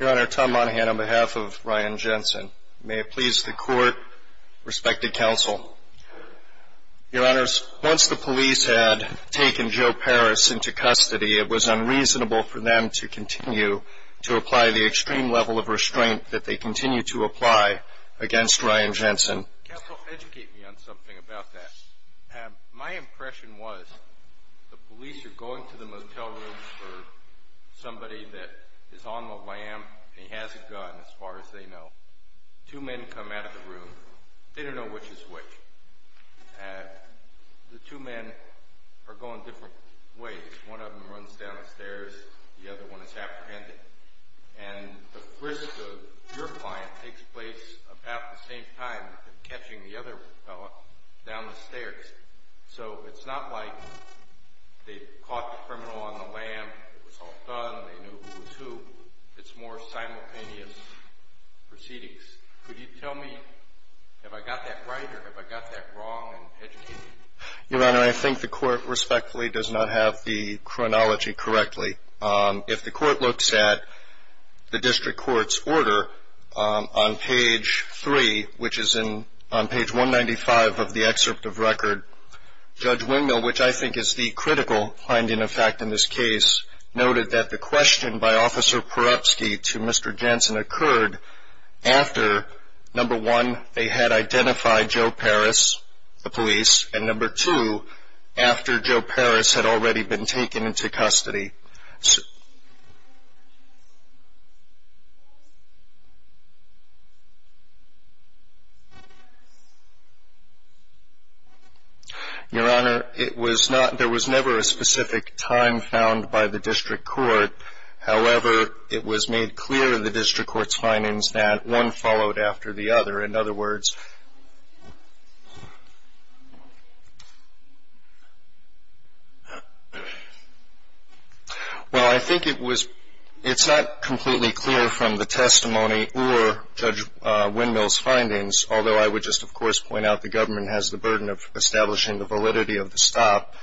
Your Honor, Tom Monahan on behalf of Ryan Jensen. May it please the Court, respected counsel. Your Honors, once the police had taken Joe Paris into custody, it was unreasonable for them to continue to apply the extreme level of restraint that they continue to apply against Ryan Jensen. Counsel, educate me on something about that. My impression was, the criminal is on the lamp, and he has a gun, as far as they know. Two men come out of the room. They don't know which is which. The two men are going different ways. One of them runs down the stairs, the other one is apprehended. And the risk of your client takes place about the same time as them catching the other fella down the stairs. So it's not like they caught the criminal on the lamp, it was all done, they knew who was who. It's more simultaneous proceedings. Could you tell me, have I got that right, or have I got that wrong? And educate me. Your Honor, I think the Court respectfully does not have the chronology correctly. If the Court looks at the District Court's order on page 3, which is on page 195 of the excerpt of record, Judge Wingmill, which I think is the critical finding of fact in this case, noted that the question by Officer Perupski to Mr. Jensen occurred after, number one, they had identified Joe Parris, the police, and number two, after Joe Parris had already been taken into custody. Your Honor, it was not, there was never a specific time found by the District Court. However, it was made clear in the District Court's findings that one followed after the other. In other words, well, I think it was, it's not completely clear from the testimony or Judge Wingmill's findings, although I would just, of course, point out the government has the burden of establishing the validity of the stop,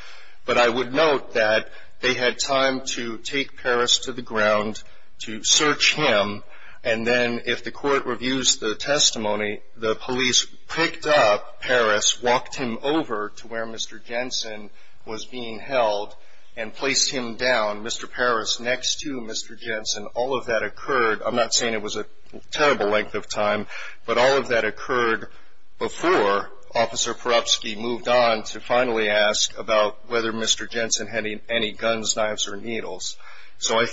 but I would note that they had time to take Parris to the ground, to search him, and then if the Court reviews the testimony, the police picked up Parris, walked him over to where Mr. Jensen was being held, and placed him down, Mr. Parris next to Mr. Jensen. All of that occurred, I'm not saying it was a terrible length of time, but all of that occurred before Officer Perupski moved on to finally ask about whether Mr. Jensen had any guns, knives, or I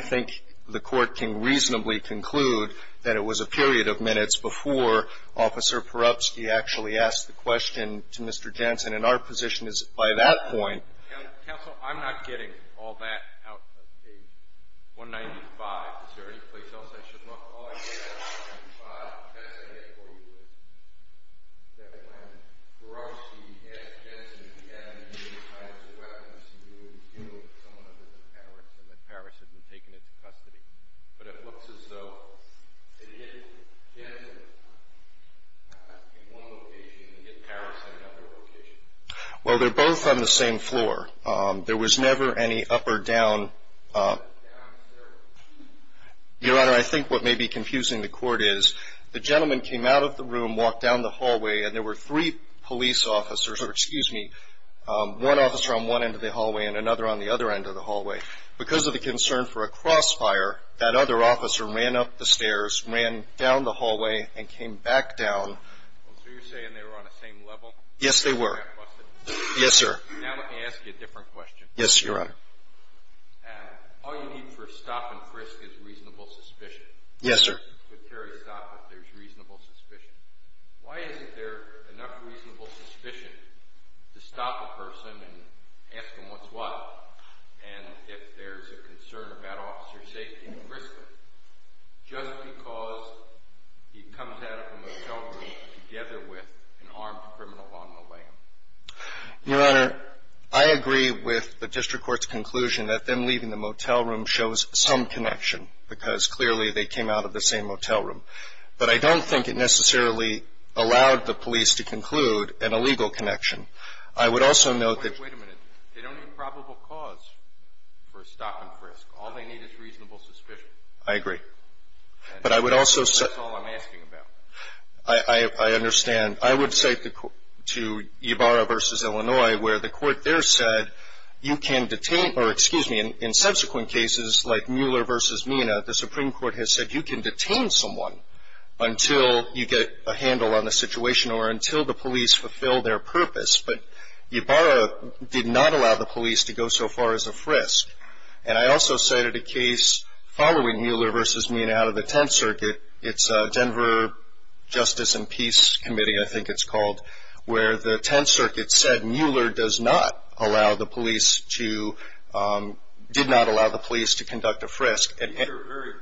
think the Court can reasonably conclude that it was a period of minutes before Officer Perupski actually asked the question to Mr. Jensen. And our position is, by that point — Well, they're both on the same floor. There was never any up or down. Your Honor, I think what may be confusing the Court is, the gentleman came out of the room, walked down the hallway, and there were three police officers — or excuse me, one officer on one end of the hallway and another on the other end of the hallway. Because of the concern for a crossfire, that other officer ran up the stairs, ran down the hallway, and came back down. So you're saying they were on the same level? Yes, they were. Now let me ask you a different question. Yes, Your Honor. All you need for a stop and frisk is reasonable suspicion. Yes, sir. Why isn't there enough reasonable suspicion to stop a person and ask them what's what? And if there's a concern about officer safety and frisking, just because he comes out of a motel room together with an armed criminal on the lam? Your Honor, I agree with the district court's conclusion that them leaving the motel room shows some connection, because clearly they came out of the same motel room. But I don't think it necessarily allowed the police to conclude an illegal connection. I would also note that — Wait a minute. They don't need probable cause for a stop and frisk. All they need is reasonable suspicion. I agree. And that's all I'm asking about. I understand. I would cite to Ybarra v. Illinois where the court there said you can detain — or excuse me, in subsequent cases like Mueller v. Mina, the Supreme Court has said you can detain someone until you get a handle on the situation or until the police fulfill their purpose. But Ybarra did not allow the police to go so far as a frisk. And I also cited a case following Mueller v. Mina out of the Tenth Circuit. It's Denver Justice and Peace Committee, I think it's called, where the Tenth Circuit said Mueller did not allow the police to conduct a frisk. These are very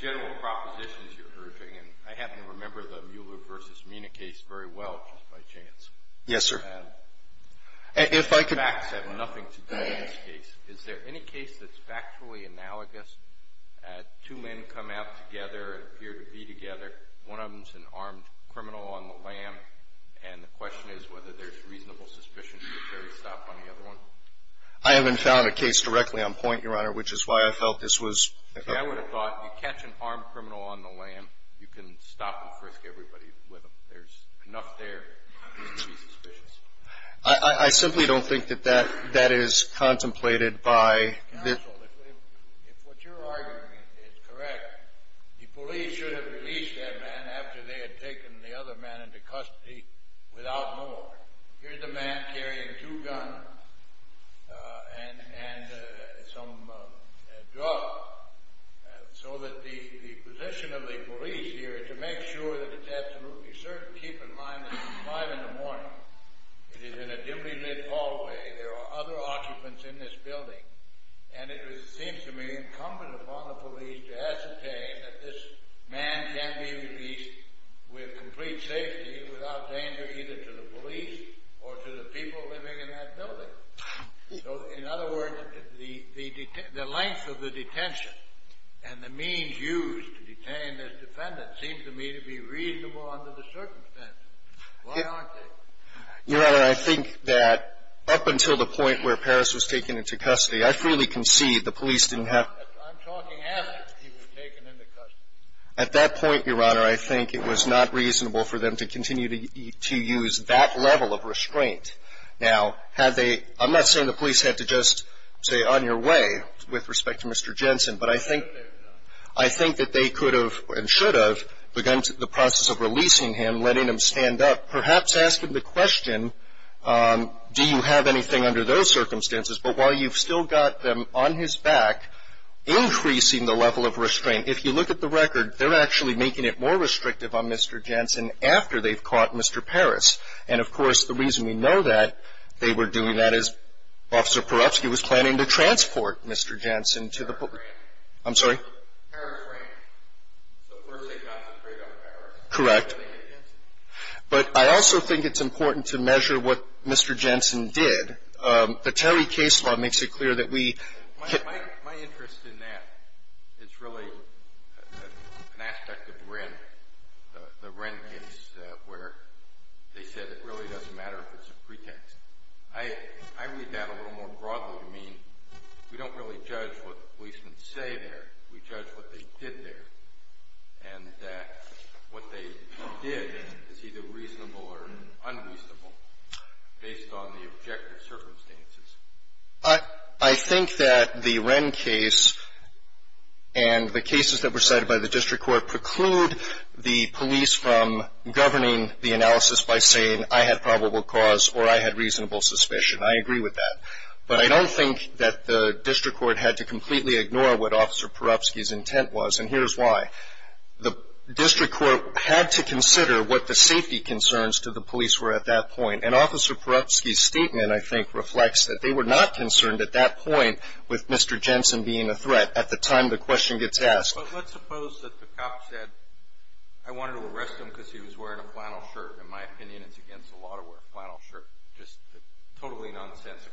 general propositions you're urging, and I happen to remember the Mueller v. Mina case very well, just by chance. Yes, sir. Facts have nothing to do with this case. Is there any case that's factually analogous, two men come out together, appear to be together, one of them's an armed criminal on the lam, and the question is whether there's reasonable suspicion that you could carry a stop on the other one? I haven't found a case directly on point, Your Honor, which is why I felt this was — See, I would have thought you catch an armed criminal on the lam, you can stop and frisk everybody with him. There's enough there to be suspicious. I simply don't think that that is contemplated by — Counsel, if what you're arguing is correct, the police should have released that man after they had taken the other man into custody without more. Here's a man carrying two guns and some drugs, so that the position of the police here is to make sure that it's absolutely certain. You should keep in mind that it's five in the morning, it is in a dimly lit hallway, there are other occupants in this building, and it seems to me incumbent upon the police to ascertain that this man can be released with complete safety, without danger either to the police or to the people living in that building. So in other words, the length of the detention and the means used to detain this defendant seems to me to be reasonable under the circumstances. Why aren't they? Your Honor, I think that up until the point where Parris was taken into custody, I freely concede the police didn't have — I'm talking after he was taken into custody. At that point, Your Honor, I think it was not reasonable for them to continue to use that level of restraint. Now, had they — I'm not saying the police had to just say, with respect to Mr. Jensen, but I think that they could have and should have begun the process of releasing him, letting him stand up, perhaps asking the question, do you have anything under those circumstances? But while you've still got them on his back, increasing the level of restraint, if you look at the record, they're actually making it more restrictive on Mr. Jensen after they've caught Mr. Parris. And, of course, the reason we know that they were doing that is Officer Perupsky was planning to transport Mr. Jensen to the — Parris Ranch. I'm sorry? Parris Ranch. So first they got him straight out of Parris. Correct. But I also think it's important to measure what Mr. Jensen did. The Terry case law makes it clear that we — My interest in that is really an aspect of Wren, the Wren case, where they said it really doesn't matter if it's a pretext. I read that a little more broadly. I mean, we don't really judge what the policemen say there. We judge what they did there. And what they did is either reasonable or unreasonable based on the objective circumstances. I think that the Wren case and the cases that were cited by the district court preclude the police from governing the analysis by saying, I had probable cause or I had reasonable suspicion. I agree with that. But I don't think that the district court had to completely ignore what Officer Perupsky's intent was, and here's why. The district court had to consider what the safety concerns to the police were at that point. And Officer Perupsky's statement, I think, reflects that they were not concerned at that point with Mr. Jensen being a threat at the time the question gets asked. But let's suppose that the cop said, I wanted to arrest him because he was wearing a flannel shirt. In my opinion, it's against the law to wear a flannel shirt. Just totally nonsensical.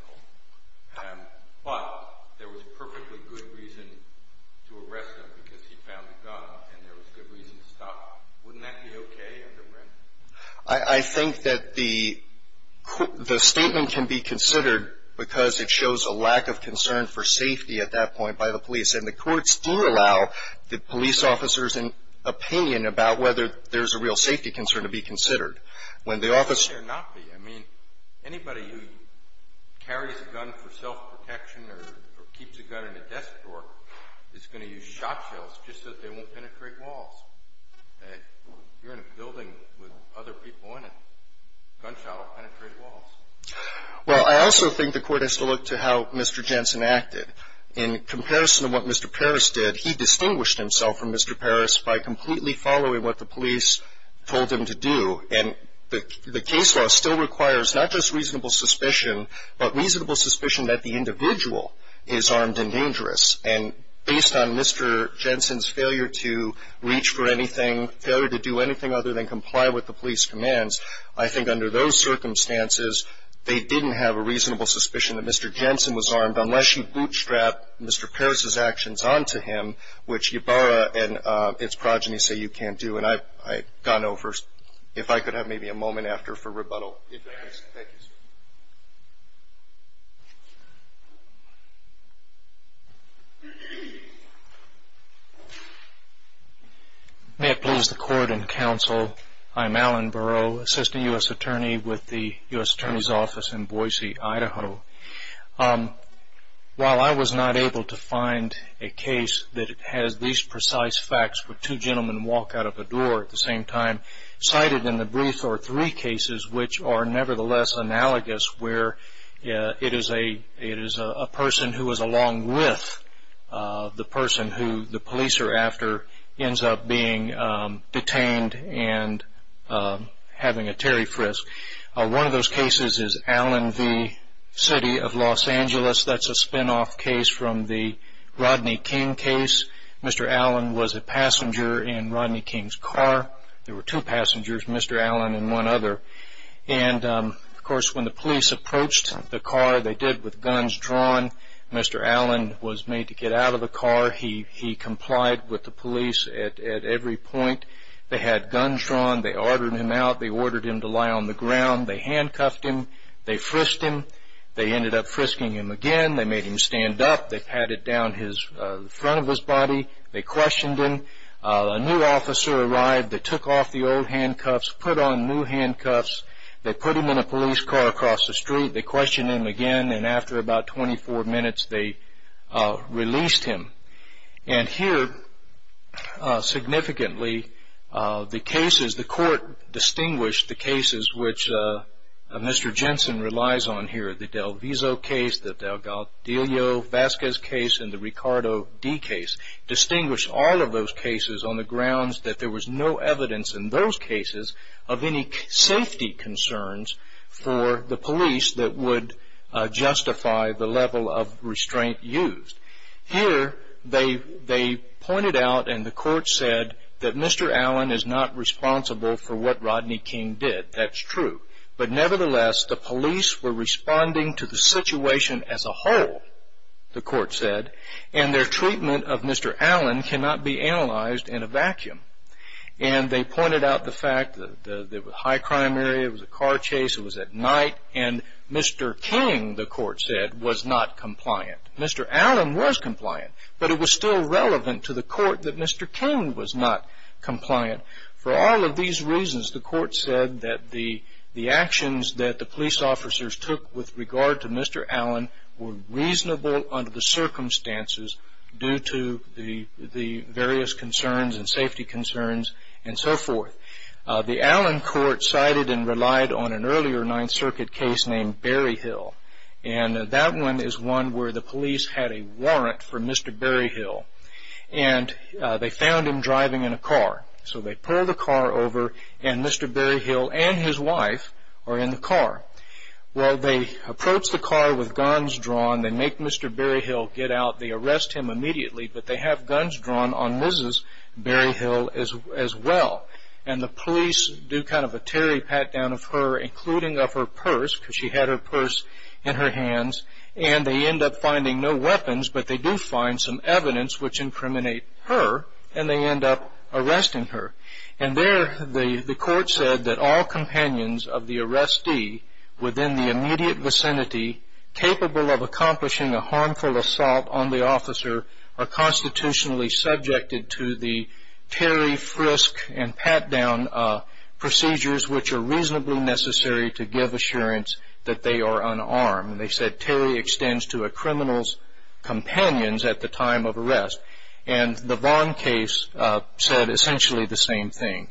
But there was perfectly good reason to arrest him because he found a gun, and there was good reason to stop. Wouldn't that be okay under Wren? I think that the statement can be considered because it shows a lack of concern for safety at that point by the police. And the courts do allow the police officers an opinion about whether there's a real safety concern to be considered. When the officer ---- It should not be. I mean, anybody who carries a gun for self-protection or keeps a gun in a desk drawer is going to use shot shells just so that they won't penetrate walls. If you're in a building with other people in it, gunshot will penetrate walls. Well, I also think the court has to look to how Mr. Jensen acted. In comparison to what Mr. Parris did, he distinguished himself from Mr. Parris by completely following what the police told him to do. And the case law still requires not just reasonable suspicion, but reasonable suspicion that the individual is armed and dangerous. And based on Mr. Jensen's failure to reach for anything, failure to do anything other than comply with the police commands, I think under those circumstances, they didn't have a reasonable suspicion that Mr. Jensen was armed, unless you bootstrap Mr. Parris's actions onto him, which Ybarra and his progeny say you can't do. And I've gone over. If I could have maybe a moment after for rebuttal. Thank you, sir. May it please the court and counsel, I'm Alan Burrow, Assistant U.S. Attorney with the U.S. Attorney's Office in Boise, Idaho. While I was not able to find a case that has these precise facts where two gentlemen walk out of a door at the same time, cited in the brief are three cases which are nevertheless analogous, where it is a person who is along with the person who the police are after ends up being detained and having a Terry Frisk. One of those cases is Allen v. City of Los Angeles. That's a spinoff case from the Rodney King case. Mr. Allen was a passenger in Rodney King's car. There were two passengers, Mr. Allen and one other. And, of course, when the police approached the car, they did with guns drawn. Mr. Allen was made to get out of the car. He complied with the police at every point. They had guns drawn. They ordered him out. They ordered him to lie on the ground. They handcuffed him. They frisked him. They ended up frisking him again. They made him stand up. They patted down the front of his body. They questioned him. A new officer arrived. They took off the old handcuffs, put on new handcuffs. They put him in a police car across the street. They questioned him again. And after about 24 minutes, they released him. And here, significantly, the cases, the court distinguished the cases which Mr. Jensen relies on here, the DelViso case, the DelGaudelio-Vazquez case, and the Ricardo D case, distinguished all of those cases on the grounds that there was no evidence in those cases of any safety concerns for the police that would justify the level of restraint used. Here, they pointed out and the court said that Mr. Allen is not responsible for what Rodney King did. That's true. But nevertheless, the police were responding to the situation as a whole, the court said, and their treatment of Mr. Allen cannot be analyzed in a vacuum. And they pointed out the fact that it was a high crime area, it was a car chase, it was at night, and Mr. King, the court said, was not compliant. Mr. Allen was compliant, but it was still relevant to the court that Mr. King was not compliant. For all of these reasons, the court said that the actions that the police officers took with regard to Mr. Allen were reasonable under the circumstances due to the various concerns and safety concerns and so forth. The Allen court cited and relied on an earlier Ninth Circuit case named Berry Hill, and that one is one where the police had a warrant for Mr. Berry Hill. And they found him driving in a car. So they pulled the car over, and Mr. Berry Hill and his wife are in the car. Well, they approach the car with guns drawn, they make Mr. Berry Hill get out, they arrest him immediately, but they have guns drawn on Mrs. Berry Hill as well. And the police do kind of a teary pat down of her, including of her purse, because she had her purse in her hands, and they end up finding no weapons, but they do find some evidence which incriminate her, and they end up arresting her. And there the court said that all companions of the arrestee within the immediate vicinity, capable of accomplishing a harmful assault on the officer, are constitutionally subjected to the teary frisk and pat down procedures which are reasonably necessary to give assurance that they are unarmed. And they said teary extends to a criminal's companions at the time of arrest. And the Vaughn case said essentially the same thing.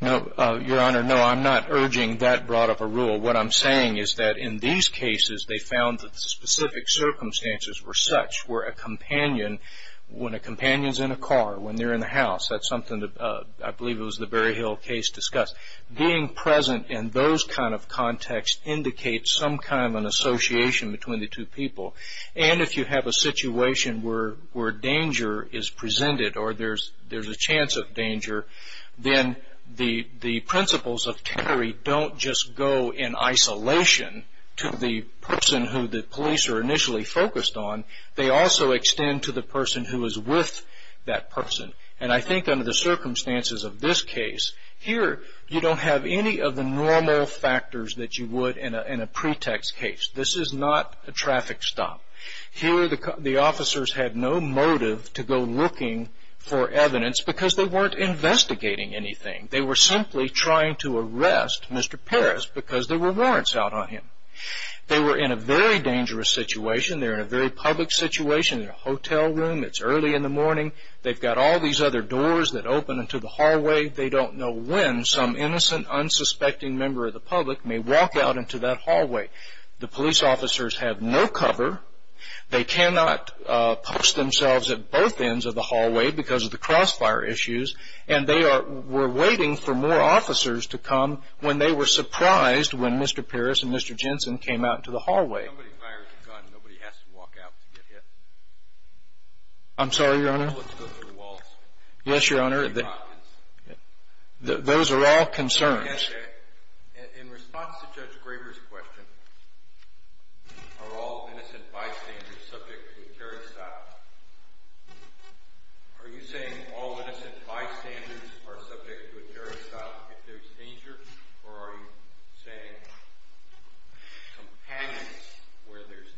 Now, Your Honor, no, I'm not urging that broad of a rule. What I'm saying is that in these cases they found that the specific circumstances were such where a companion, when a companion's in a car, when they're in the house, that's something I believe it was the Berry Hill case discussed, being present in those kind of contexts indicates some kind of an association between the two people. And if you have a situation where danger is presented or there's a chance of danger, then the principles of teary don't just go in isolation to the person who the police are initially focused on. They also extend to the person who is with that person. And I think under the circumstances of this case, here you don't have any of the normal factors that you would in a pretext case. This is not a traffic stop. Here the officers had no motive to go looking for evidence because they weren't investigating anything. They were simply trying to arrest Mr. Parris because there were warrants out on him. They were in a very dangerous situation. They're in a very public situation. They're in a hotel room. It's early in the morning. They've got all these other doors that open into the hallway. They don't know when some innocent, unsuspecting member of the public may walk out into that hallway. The police officers have no cover. They cannot post themselves at both ends of the hallway because of the crossfire issues, and they were waiting for more officers to come when they were surprised when Mr. Parris and Mr. Jensen came out into the hallway. Nobody fires a gun. Nobody has to walk out to get hit. I'm sorry, Your Honor? Let's go through the walls. Yes, Your Honor. Those are all concerns. In response to Judge Graber's question, are all innocent bystanders subject to a terror assault? Are you saying all innocent bystanders are subject to a terror assault if there's danger, or are you saying companions where there's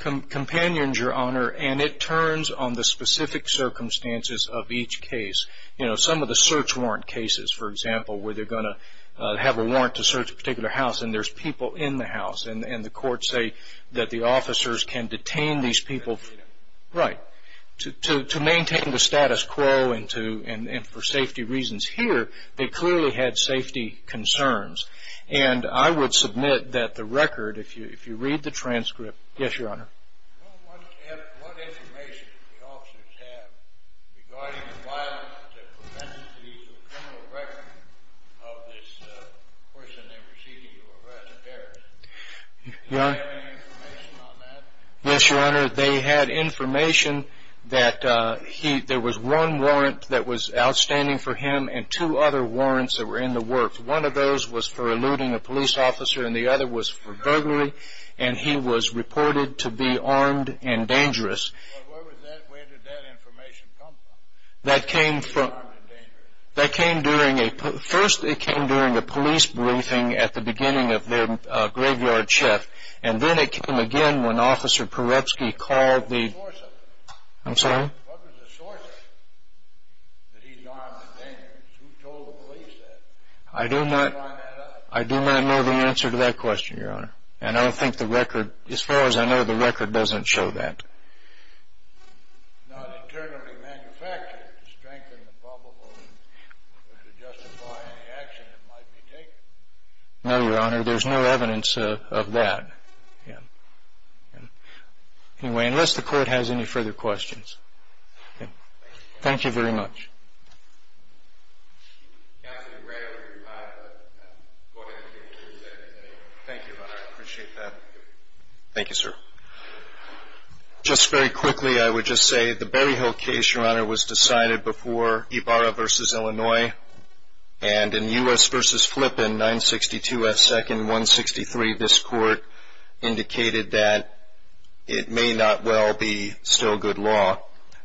danger? Companions, Your Honor, and it turns on the specific circumstances of each case. You know, some of the search warrant cases, for example, where they're going to have a warrant to search a particular house and there's people in the house and the courts say that the officers can detain these people. Right. To maintain the status quo and for safety reasons. Here, they clearly had safety concerns, and I would submit that the record, if you read the transcript. Yes, Your Honor? Your Honor, what information did the officers have regarding the violence that prevented the use of a criminal record of this person they were seeking to arrest? Did they have any information on that? Yes, Your Honor. They had information that there was one warrant that was outstanding for him and two other warrants that were in the works. One of those was for eluding a police officer and the other was for burglary, and he was reported to be armed and dangerous. Well, where did that information come from? That came during a police briefing at the beginning of their graveyard check, and then it came again when Officer Perebski called the... What was the source of it? I'm sorry? What was the source of it, that he's armed and dangerous? Who told the police that? I do not know the answer to that question, Your Honor. And I don't think the record, as far as I know, the record doesn't show that. Not internally manufactured to strengthen the problem or to justify any action that might be taken? No, Your Honor. There's no evidence of that. Anyway, unless the Court has any further questions. Thank you very much. Counsel, you ran out of your time. Go ahead and take three seconds. Thank you, Your Honor. I appreciate that. Thank you, sir. Just very quickly, I would just say the Berryhill case, Your Honor, was decided before Ybarra v. Illinois, and in U.S. v. Flippen, 962 F. Second, 163, this Court indicated that it may not well be still good law.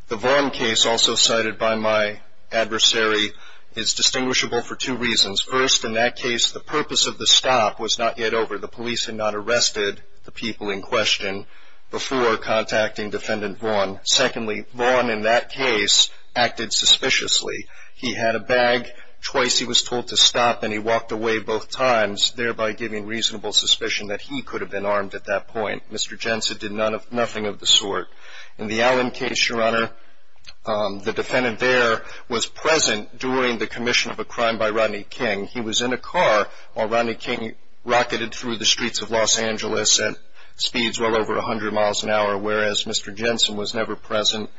The Vaughn case, also cited by my adversary, is distinguishable for two reasons. First, in that case, the purpose of the stop was not yet over. The police had not arrested the people in question before contacting Defendant Vaughn. Secondly, Vaughn, in that case, acted suspiciously. He had a bag. Twice he was told to stop, and he walked away both times, thereby giving reasonable suspicion that he could have been armed at that point. Mr. Jensen did nothing of the sort. In the Allen case, Your Honor, the defendant there was present during the commission of a crime by Rodney King. He was in a car while Rodney King rocketed through the streets of Los Angeles at speeds well over 100 miles an hour, whereas Mr. Jensen was never present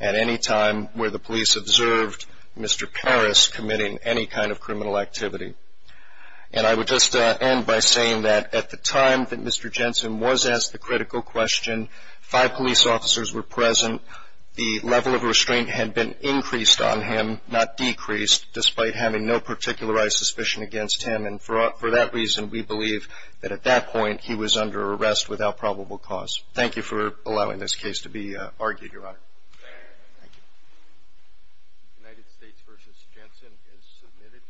at any time where the police observed Mr. Parris committing any kind of criminal activity. And I would just end by saying that at the time that Mr. Jensen was asked the critical question, five police officers were present. The level of restraint had been increased on him, not decreased, despite having no particularized suspicion against him. And for that reason, we believe that at that point he was under arrest without probable cause. Thank you for allowing this case to be argued, Your Honor. Thank you. United States v. Jensen is submitted.